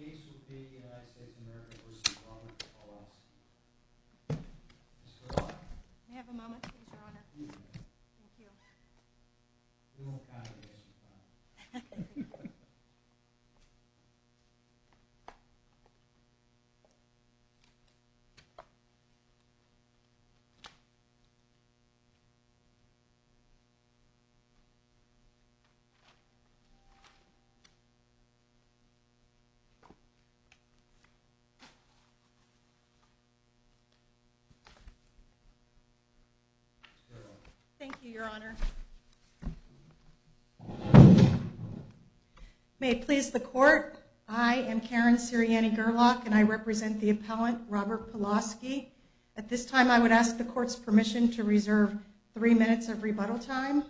May I have a moment, please, your honor? Thank you. We won't count it as a crime. Thank you, your honor. May it please the court, I am Karen Sirianni Gerlach and I represent the appellant Robert Pawlowski. At this time I would ask the court's permission to reserve three minutes of rebuttal time.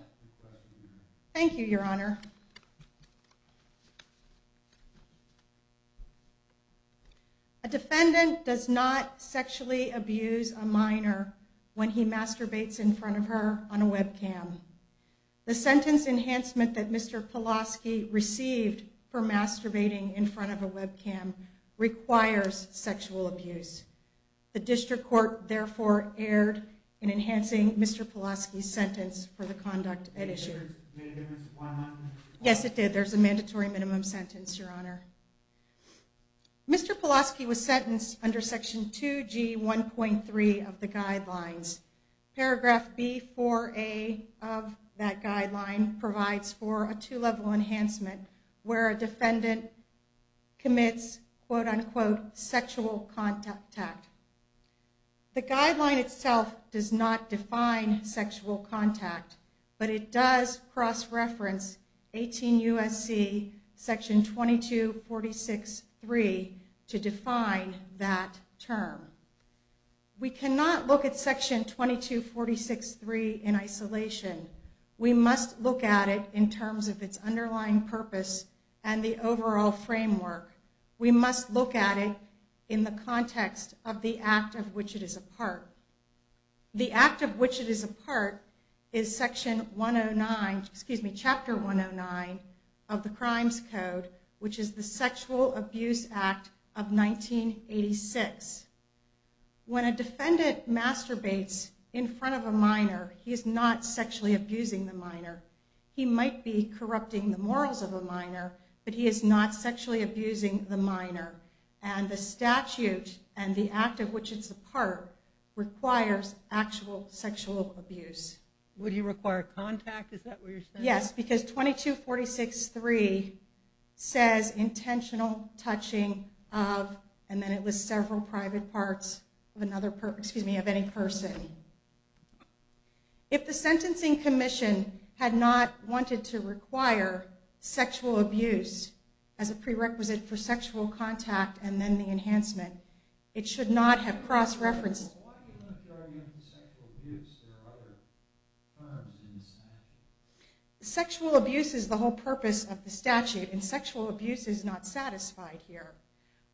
Thank you, your honor. A defendant does not sexually abuse a minor when he masturbates in front of her on a webcam. The sentence enhancement that Mr. Pawlowski received for masturbating in front of a webcam requires sexual abuse. The district court therefore erred in enhancing Mr. Pawlowski's sentence for the conduct at issue. Yes, it did. There's a mandatory minimum sentence, your honor. Mr. Pawlowski was sentenced under Section 2G 1.3 of the guidelines. Paragraph B4A of that guideline provides for a two-level enhancement where a defendant commits quote-unquote sexual contact. The guideline itself does not define sexual contact, but it does cross-reference 18 U.S.C. Section 2246.3 to define that term. We cannot look at Section 2246.3 in isolation. We must look at it in terms of its underlying purpose and the overall framework. We must look at it in the context of the act of which it is a part. The act of which it is a part is Chapter 109 of the Crimes Code, which is the Sexual Abuse Act of 1986. When a defendant masturbates in front of a minor, he is not sexually abusing the minor. He might be corrupting the morals of a minor, but he is not sexually abusing the minor. The statute and the act of which it is a part requires actual sexual abuse. Would you require contact? Is that what you're saying? Yes, because 2246.3 says intentional touching of, and then it lists several private parts of any person. If the Sentencing Commission had not wanted to require sexual abuse as a prerequisite for sexual contact and then the enhancement, it should not have cross-referenced it. Sexual abuse is the whole purpose of the statute, and sexual abuse is not satisfied here.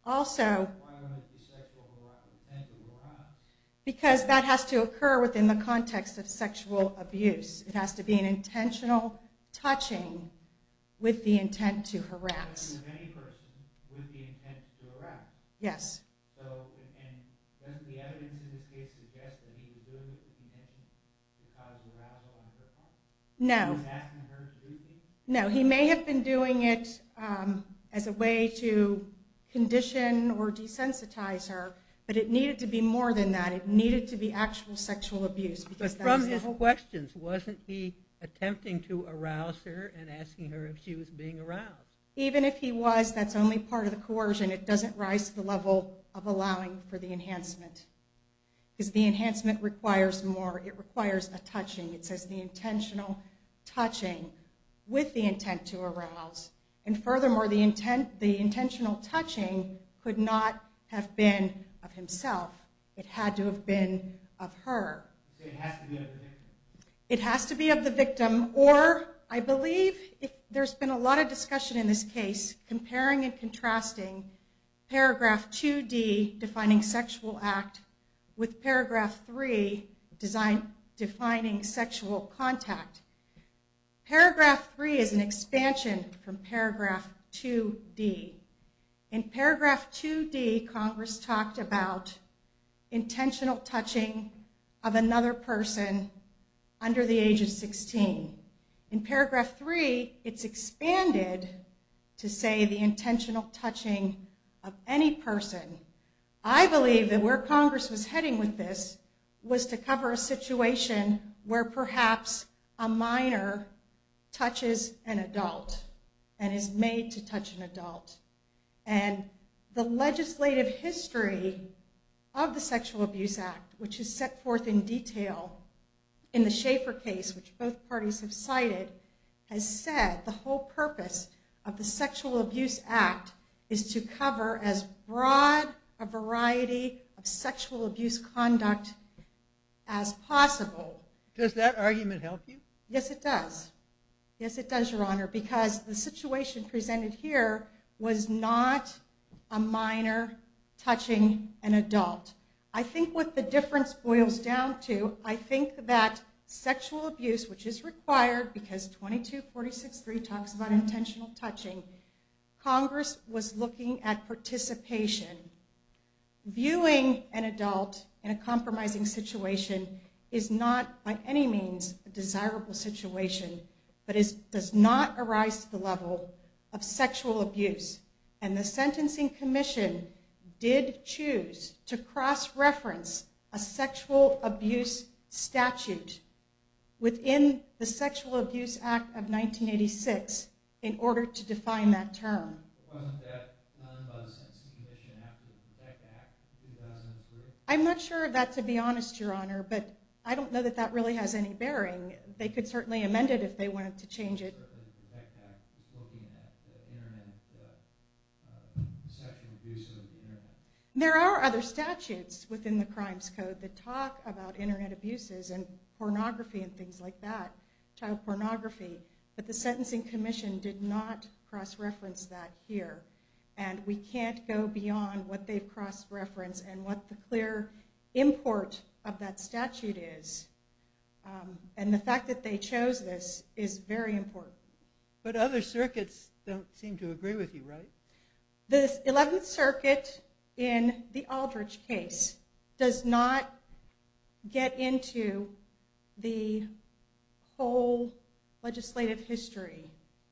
Why would there be sexual harassment? Because that has to occur within the context of sexual abuse. It has to be an intentional touching with the intent to harass. Any person with the intent to harass? Yes. Doesn't the evidence in this case suggest that he was doing it with the intention to cause harassment? No. He was asking her to do things? No, he may have been doing it as a way to condition or desensitize her, but it needed to be more than that. It needed to be actual sexual abuse. But from his questions, wasn't he attempting to arouse her and asking her if she was being aroused? Even if he was, that's only part of the coercion. It doesn't rise to the level of allowing for the enhancement, because the enhancement requires more. It requires a touching. It says the intentional touching with the intent to arouse. And furthermore, the intentional touching could not have been of himself. It had to have been of her. So it has to be of the victim? It has to be of the victim, or I believe there's been a lot of discussion in this case comparing and contrasting Paragraph 2D, defining sexual act, with Paragraph 3, defining sexual contact. Paragraph 3 is an expansion from Paragraph 2D. In Paragraph 2D, Congress talked about intentional touching of another person under the age of 16. In Paragraph 3, it's expanded to say the intentional touching of any person. I believe that where Congress was heading with this was to cover a situation where perhaps a minor touches an adult and is made to touch an adult. And the legislative history of the Sexual Abuse Act, which is set forth in detail in the Schaeffer case, which both parties have cited, has said the whole purpose of the Sexual Abuse Act is to cover as broad a variety of sexual abuse conduct as possible. Does that argument help you? Yes, it does. Yes, it does, Your Honor, because the situation presented here was not a minor touching an adult. I think what the difference boils down to, I think that sexual abuse, which is required because 2246.3 talks about intentional touching, Congress was looking at participation. Viewing an adult in a compromising situation is not by any means a desirable situation, but does not arise to the level of sexual abuse. And the Sentencing Commission did choose to cross-reference a sexual abuse statute within the Sexual Abuse Act of 1986 in order to define that term. Wasn't that done by the Sentencing Commission after the Protect Act of 2003? I'm not sure of that, to be honest, Your Honor, but I don't know that that really has any bearing. They could certainly amend it if they wanted to change it. The Protect Act is looking at the Internet, the sexual abuse of the Internet. There are other statutes within the Crimes Code that talk about Internet abuses and pornography and things like that, child pornography, but the Sentencing Commission did not cross-reference that here. And we can't go beyond what they've cross-referenced and what the clear import of that statute is. And the fact that they chose this is very important. But other circuits don't seem to agree with you, right? The Eleventh Circuit in the Aldrich case does not get into the whole legislative history.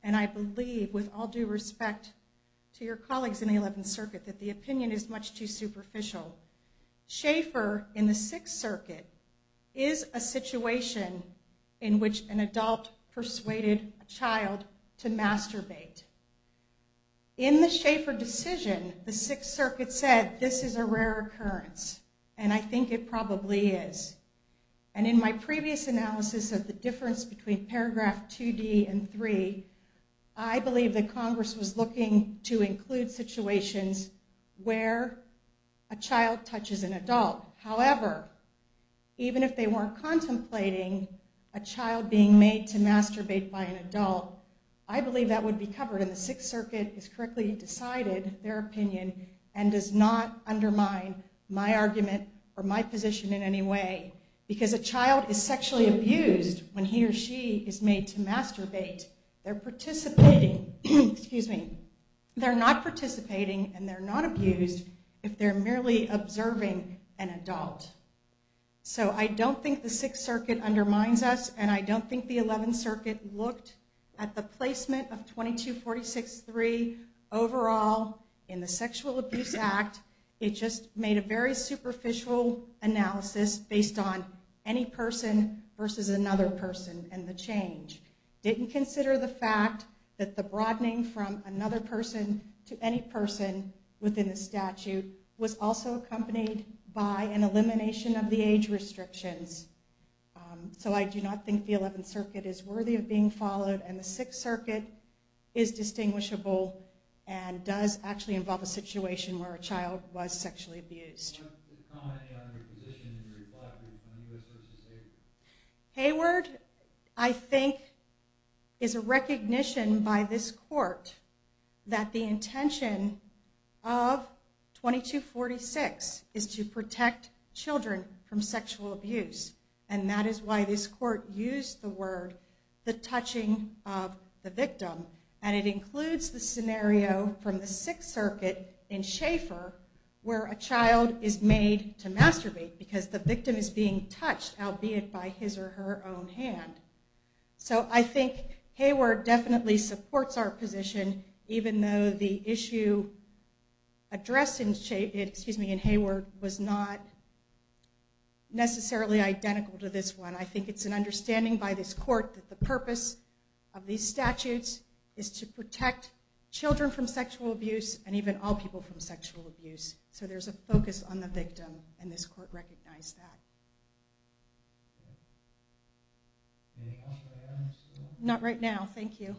And I believe, with all due respect to your colleagues in the Eleventh Circuit, that the opinion is much too superficial. Schaeffer, in the Sixth Circuit, is a situation in which an adult persuaded a child to masturbate. In the Schaeffer decision, the Sixth Circuit said, this is a rare occurrence, and I think it probably is. And in my previous analysis of the difference between paragraph 2D and 3, I believe that Congress was looking to include situations where a child touches an adult. However, even if they weren't contemplating a child being made to masturbate by an adult, I believe that would be covered. And the Sixth Circuit has correctly decided their opinion and does not undermine my argument or my position in any way. Because a child is sexually abused when he or she is made to masturbate. They're not participating and they're not abused if they're merely observing an adult. So I don't think the Sixth Circuit undermines us, and I don't think the Eleventh Circuit looked at the placement of 2246.3 overall in the Sexual Abuse Act. It just made a very superficial analysis based on any person versus another person and the change. It didn't consider the fact that the broadening from another person to any person within the statute was also accompanied by an elimination of the age restrictions. So I do not think the Eleventh Circuit is worthy of being followed, and the Sixth Circuit is distinguishable and does actually involve a situation where a child was sexually abused. I'd like to comment on your position in your reply on Hayward v. Hayward. Hayward, I think, is a recognition by this court that the intention of 2246 is to protect children from sexual abuse. And that is why this court used the word, the touching of the victim. And it includes the scenario from the Sixth Circuit in Schaefer where a child is made to masturbate because the victim is being touched, albeit by his or her own hand. So I think Hayward definitely supports our position, even though the issue addressed in Hayward was not necessarily identical to this one. But I think it's an understanding by this court that the purpose of these statutes is to protect children from sexual abuse and even all people from sexual abuse. So there's a focus on the victim, and this court recognized that. Not right now, thank you.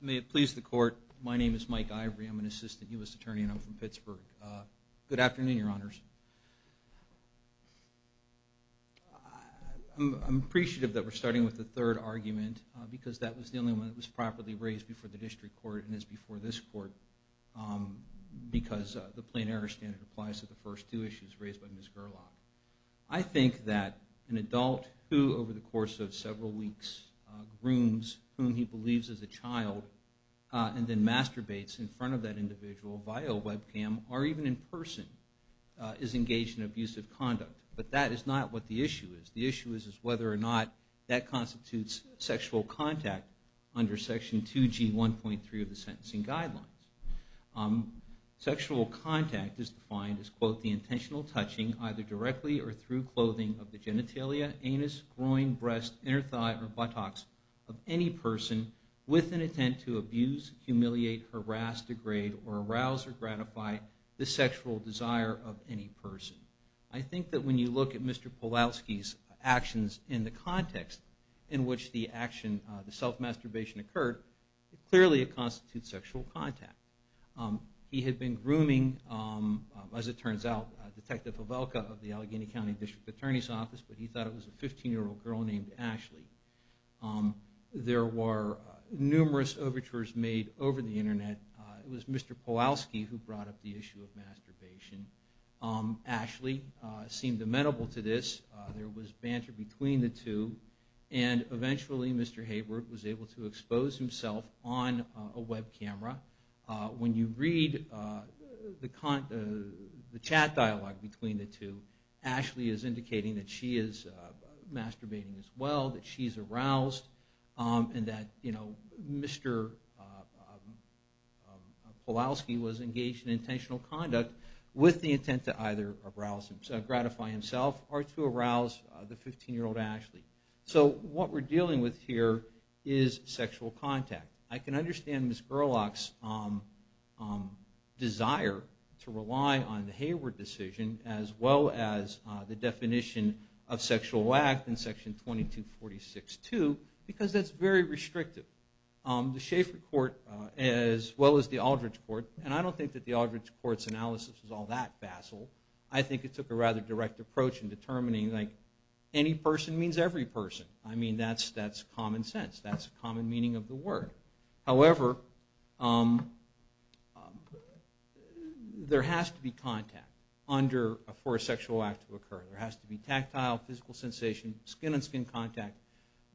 May it please the court. My name is Mike Ivory. I'm an assistant U.S. attorney, and I'm from Pittsburgh. Good afternoon, Your Honors. I'm appreciative that we're starting with the third argument because that was the only one that was properly raised before the district court and is before this court because the plain error standard applies to the first two issues raised by Ms. Gerlach. I think that an adult who, over the course of several weeks, grooms whom he believes is a child and then masturbates in front of that individual via a webcam or even in person is engaged in abusive conduct. But that is not what the issue is. The issue is whether or not that constitutes sexual contact under Section 2G1.3 of the Sentencing Guidelines. Sexual contact is defined as, quote, the intentional touching either directly or through clothing of the genitalia, anus, groin, breast, inner thigh, or buttocks of any person with an intent to abuse, humiliate, harass, degrade, or arouse or gratify the sexual desire of any person. I think that when you look at Mr. Pawlowski's actions in the context in which the action, the self-masturbation occurred, it clearly constitutes sexual contact. He had been grooming, as it turns out, Detective Pavelka of the Allegheny County District Attorney's Office, but he thought it was a 15-year-old girl named Ashley. There were numerous overtures made over the Internet. It was Mr. Pawlowski who brought up the issue of masturbation. Ashley seemed amenable to this. There was banter between the two, and eventually Mr. Hayward was able to expose himself on a web camera. When you read the chat dialogue between the two, Ashley is indicating that she is masturbating as well, that she's aroused, and that Mr. Pawlowski was engaged in intentional conduct with the intent to either arouse and gratify himself or to arouse the 15-year-old Ashley. So what we're dealing with here is sexual contact. I can understand Ms. Gerlach's desire to rely on the Hayward decision as well as the definition of sexual act in Section 2246-2, because that's very restrictive. The Schaeffer Court, as well as the Aldridge Court, and I don't think that the Aldridge Court's analysis is all that facile. I think it took a rather direct approach in determining that any person means every person. I mean, that's common sense. That's the common meaning of the word. However, there has to be contact for a sexual act to occur. There has to be tactile, physical sensation, skin-on-skin contact,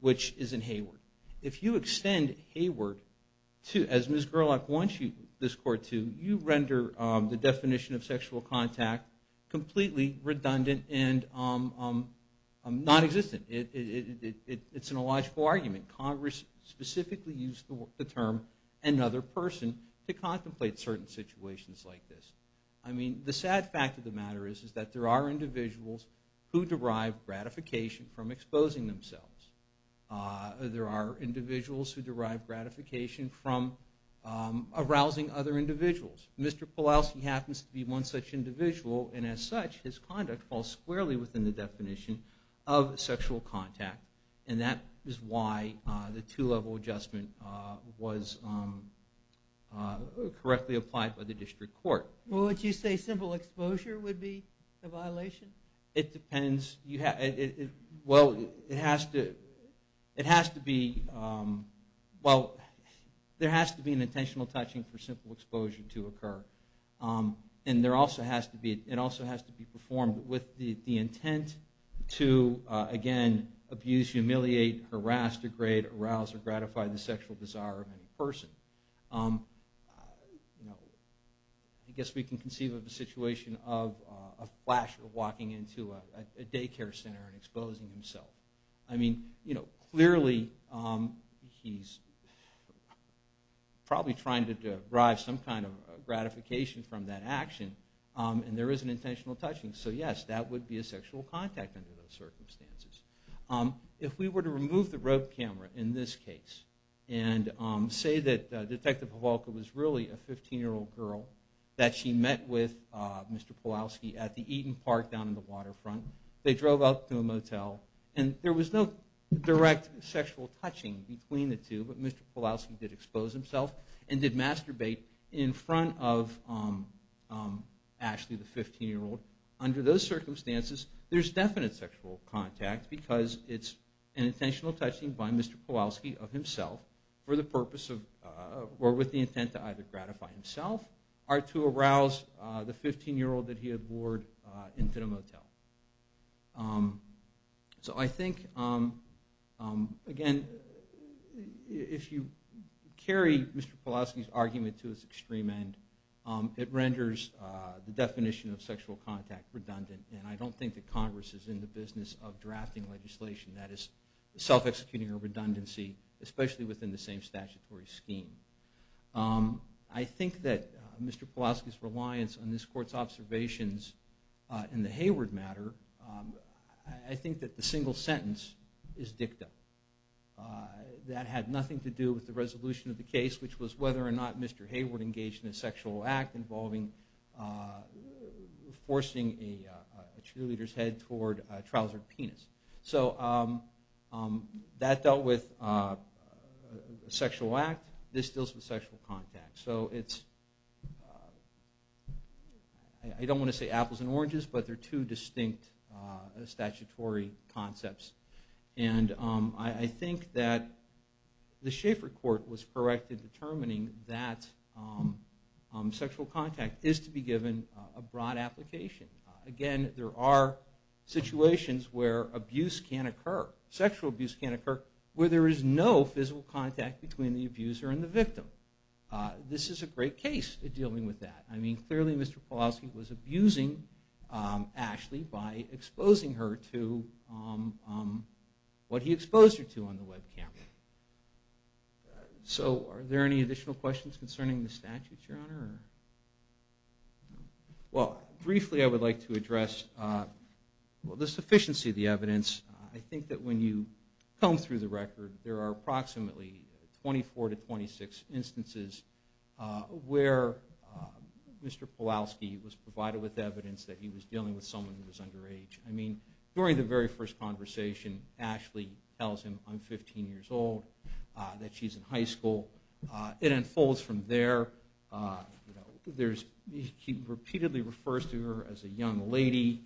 which is in Hayward. If you extend Hayward, as Ms. Gerlach wants this Court to, you render the definition of sexual contact completely redundant and nonexistent. It's an illogical argument. Congress specifically used the term another person to contemplate certain situations like this. I mean, the sad fact of the matter is that there are individuals who derive gratification from exposing themselves. There are individuals who derive gratification from arousing other individuals. Mr. Pulaski happens to be one such individual, and as such his conduct falls squarely within the definition of sexual contact. And that is why the two-level adjustment was correctly applied by the District Court. Well, would you say simple exposure would be a violation? It depends. Well, it has to be an intentional touching for simple exposure to occur. And it also has to be performed with the intent to, again, abuse, humiliate, harass, degrade, arouse, or gratify the sexual desire of any person. I guess we can conceive of a situation of a flasher walking into a daycare center and exposing himself. I mean, clearly he's probably trying to derive some kind of gratification from that action, and there is an intentional touching. So yes, that would be a sexual contact under those circumstances. If we were to remove the rope camera in this case and say that Detective Havalka was really a 15-year-old girl that she met with Mr. Pulaski at the Eaton Park down in the waterfront. They drove up to a motel, and there was no direct sexual touching between the two, but Mr. Pulaski did expose himself and did masturbate in front of Ashley, the 15-year-old. Under those circumstances, there's definite sexual contact because it's an intentional touching by Mr. Pulaski of himself or with the intent to either gratify himself or to arouse the 15-year-old that he had lured into the motel. So I think, again, if you carry Mr. Pulaski's argument to its extreme end, it renders the definition of sexual contact redundant, and I don't think that Congress is in the business of drafting legislation that is self-executing a redundancy, especially within the same statutory scheme. I think that Mr. Pulaski's reliance on this Court's observations in the Hayward matter, I think that the single sentence is dicta. That had nothing to do with the resolution of the case, which was whether or not Mr. Hayward engaged in a sexual act involving forcing a cheerleader's head toward a trousered penis. So that dealt with a sexual act. This deals with sexual contact. I don't want to say apples and oranges, but they're two distinct statutory concepts. And I think that the Schaeffer Court was correct in determining that sexual contact is to be given a broad application. Again, there are situations where abuse can occur, sexual abuse can occur, where there is no physical contact between the abuser and the victim. This is a great case in dealing with that. Clearly Mr. Pulaski was abusing Ashley by exposing her to what he exposed her to on the webcam. So are there any additional questions concerning the statutes, Your Honor? Well, briefly I would like to address the sufficiency of the evidence. I think that when you comb through the record, there are approximately 24 to 26 instances where Mr. Pulaski was provided with evidence that he was dealing with someone who was underage. I mean, during the very first conversation, Ashley tells him, I'm 15 years old, that she's in high school. It unfolds from there. He repeatedly refers to her as a young lady.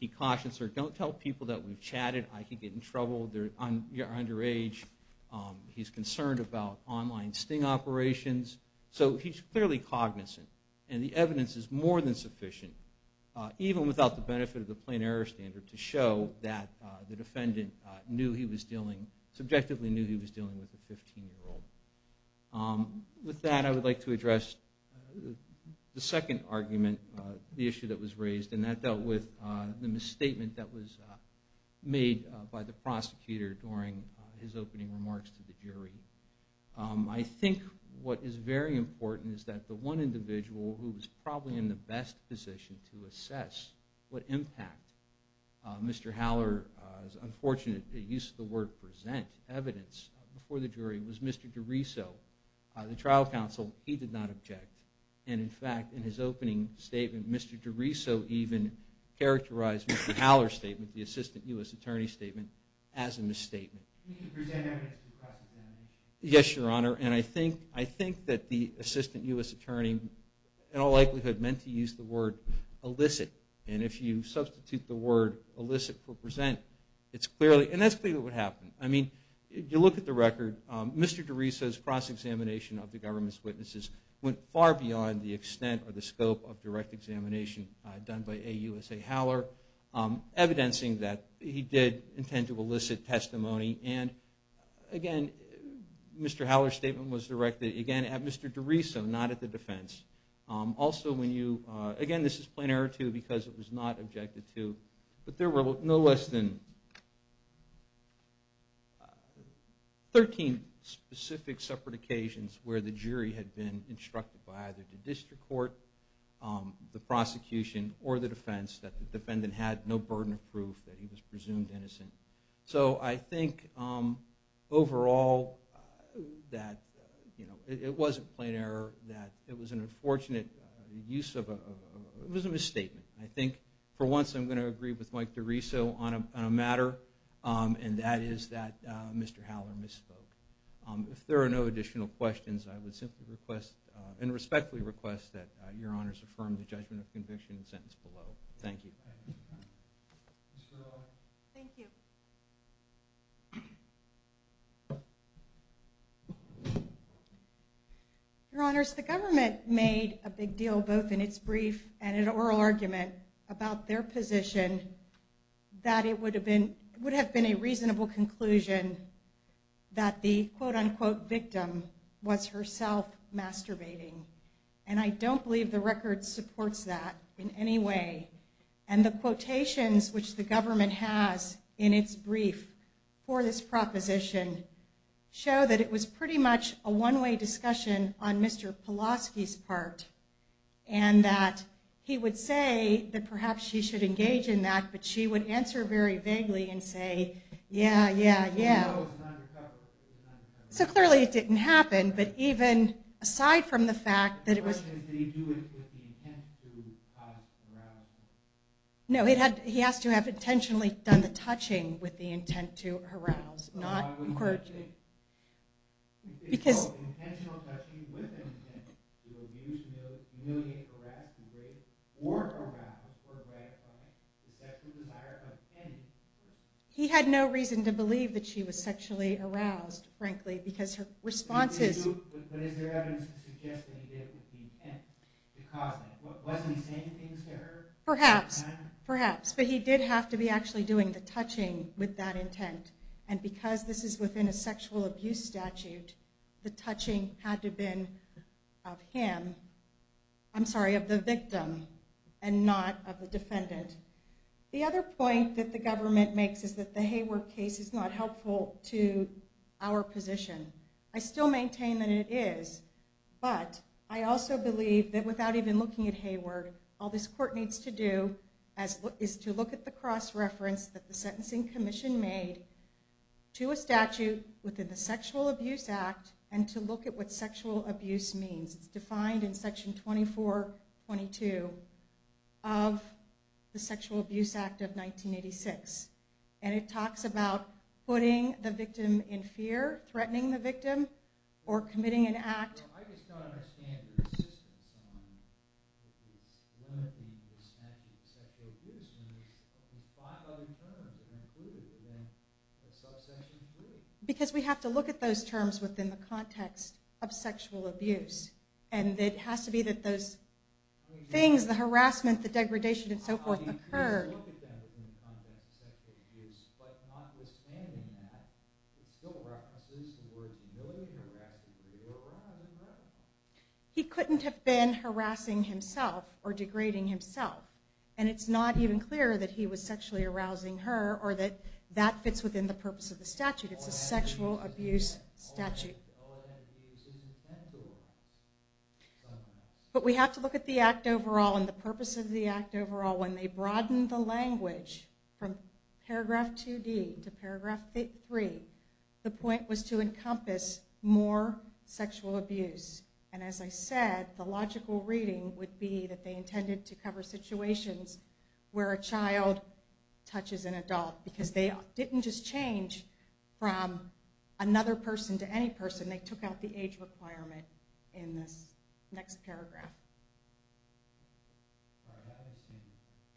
He cautions her, don't tell people that we've chatted. I could get in trouble, you're underage. He's concerned about online sting operations. So he's clearly cognizant, and the evidence is more than sufficient, even without the benefit of the plain error standard, to show that the defendant subjectively knew he was dealing with a 15-year-old. With that, I would like to address the second argument, the issue that was raised, and that dealt with the misstatement that was made by the prosecutor during his opening remarks to the jury. I think what is very important is that the one individual who was probably in the best position to assess what impact Mr. Haller's unfortunate use of the word present evidence before the jury was Mr. DiRiso, the trial counsel. He did not object, and in fact, in his opening statement, Mr. DiRiso even characterized Mr. Haller's statement, the assistant U.S. attorney's statement, as a misstatement. He didn't present evidence to the press at the time. Yes, Your Honor, and I think that the assistant U.S. attorney, in all likelihood, meant to use the word elicit. And if you substitute the word elicit for present, it's clearly, and that's clearly what happened. I mean, if you look at the record, Mr. DiRiso's cross-examination of the government's witnesses went far beyond the extent or the scope of direct examination done by A. USA Haller, evidencing that he did intend to elicit testimony. And, again, Mr. Haller's statement was directed, again, at Mr. DiRiso, not at the defense. Also, when you, again, this is plain error, too, because it was not objected to, but there were no less than 13 specific separate occasions where the jury had been instructed by either the district court, the prosecution, or the defense that the defendant had no burden of proof that he was presumed innocent. So I think, overall, that it wasn't plain error, that it was an unfortunate use of a, it was a misstatement. I think, for once, I'm going to agree with Mike DiRiso on a matter, and that is that Mr. Haller misspoke. If there are no additional questions, I would simply request, and respectfully request that Your Honors affirm the judgment of conviction in the sentence below. Thank you. Thank you. Your Honors, the government made a big deal, both in its brief and in oral argument, about their position that it would have been, would have been a reasonable conclusion that the quote-unquote victim was herself masturbating. And I don't believe the record supports that in any way. And the quotations, which the government has in its brief for this proposition, show that it was pretty much a one-way discussion on Mr. Pulaski's part, and that he would say that perhaps she should engage in that, but she would answer very vaguely and say, yeah, yeah, yeah. So clearly it didn't happen, but even aside from the fact that it was... The question is, did he do it with the intent to cause harassment? No, he has to have intentionally done the touching with the intent to harass, not... But why would he do it? Because... It's called intentional touching with an intent to abuse, humiliate, harass, to rape, or harass or gratify the sexual desire of a tenant. He had no reason to believe that she was sexually aroused, frankly, because her responses... But is there evidence to suggest that he did it with the intent to cause that? Wasn't he saying things to her? Perhaps, perhaps. But he did have to be actually doing the touching with that intent. And because this is within a sexual abuse statute, the touching had to have been of him, I'm sorry, of the victim, and not of the defendant. The other point that the government makes is that the Hayward case is not helpful to our position. I still maintain that it is, but I also believe that without even looking at Hayward, all this court needs to do is to look at the cross-reference that the Sentencing Commission made to a statute within the Sexual Abuse Act and to look at what sexual abuse means. It's defined in Section 2422 of the Sexual Abuse Act of 1986. And it talks about putting the victim in fear, threatening the victim, or committing an act. Because we have to look at those terms within the context of sexual abuse. And it has to be that those things, the harassment, the degradation, and so forth, occurred. He couldn't have been harassing himself or degrading himself. And it's not even clear that he was sexually arousing her or that that fits within the purpose of the statute. It's a sexual abuse statute. But we have to look at the act overall and the purpose of the act overall. When they broadened the language from paragraph 2D to paragraph 3, the point was to encompass more sexual abuse. And as I said, the logical reading would be that they intended to cover situations where a child touches an adult because they didn't just change from another person to any person. They took out the age requirement in this next paragraph. Thank you.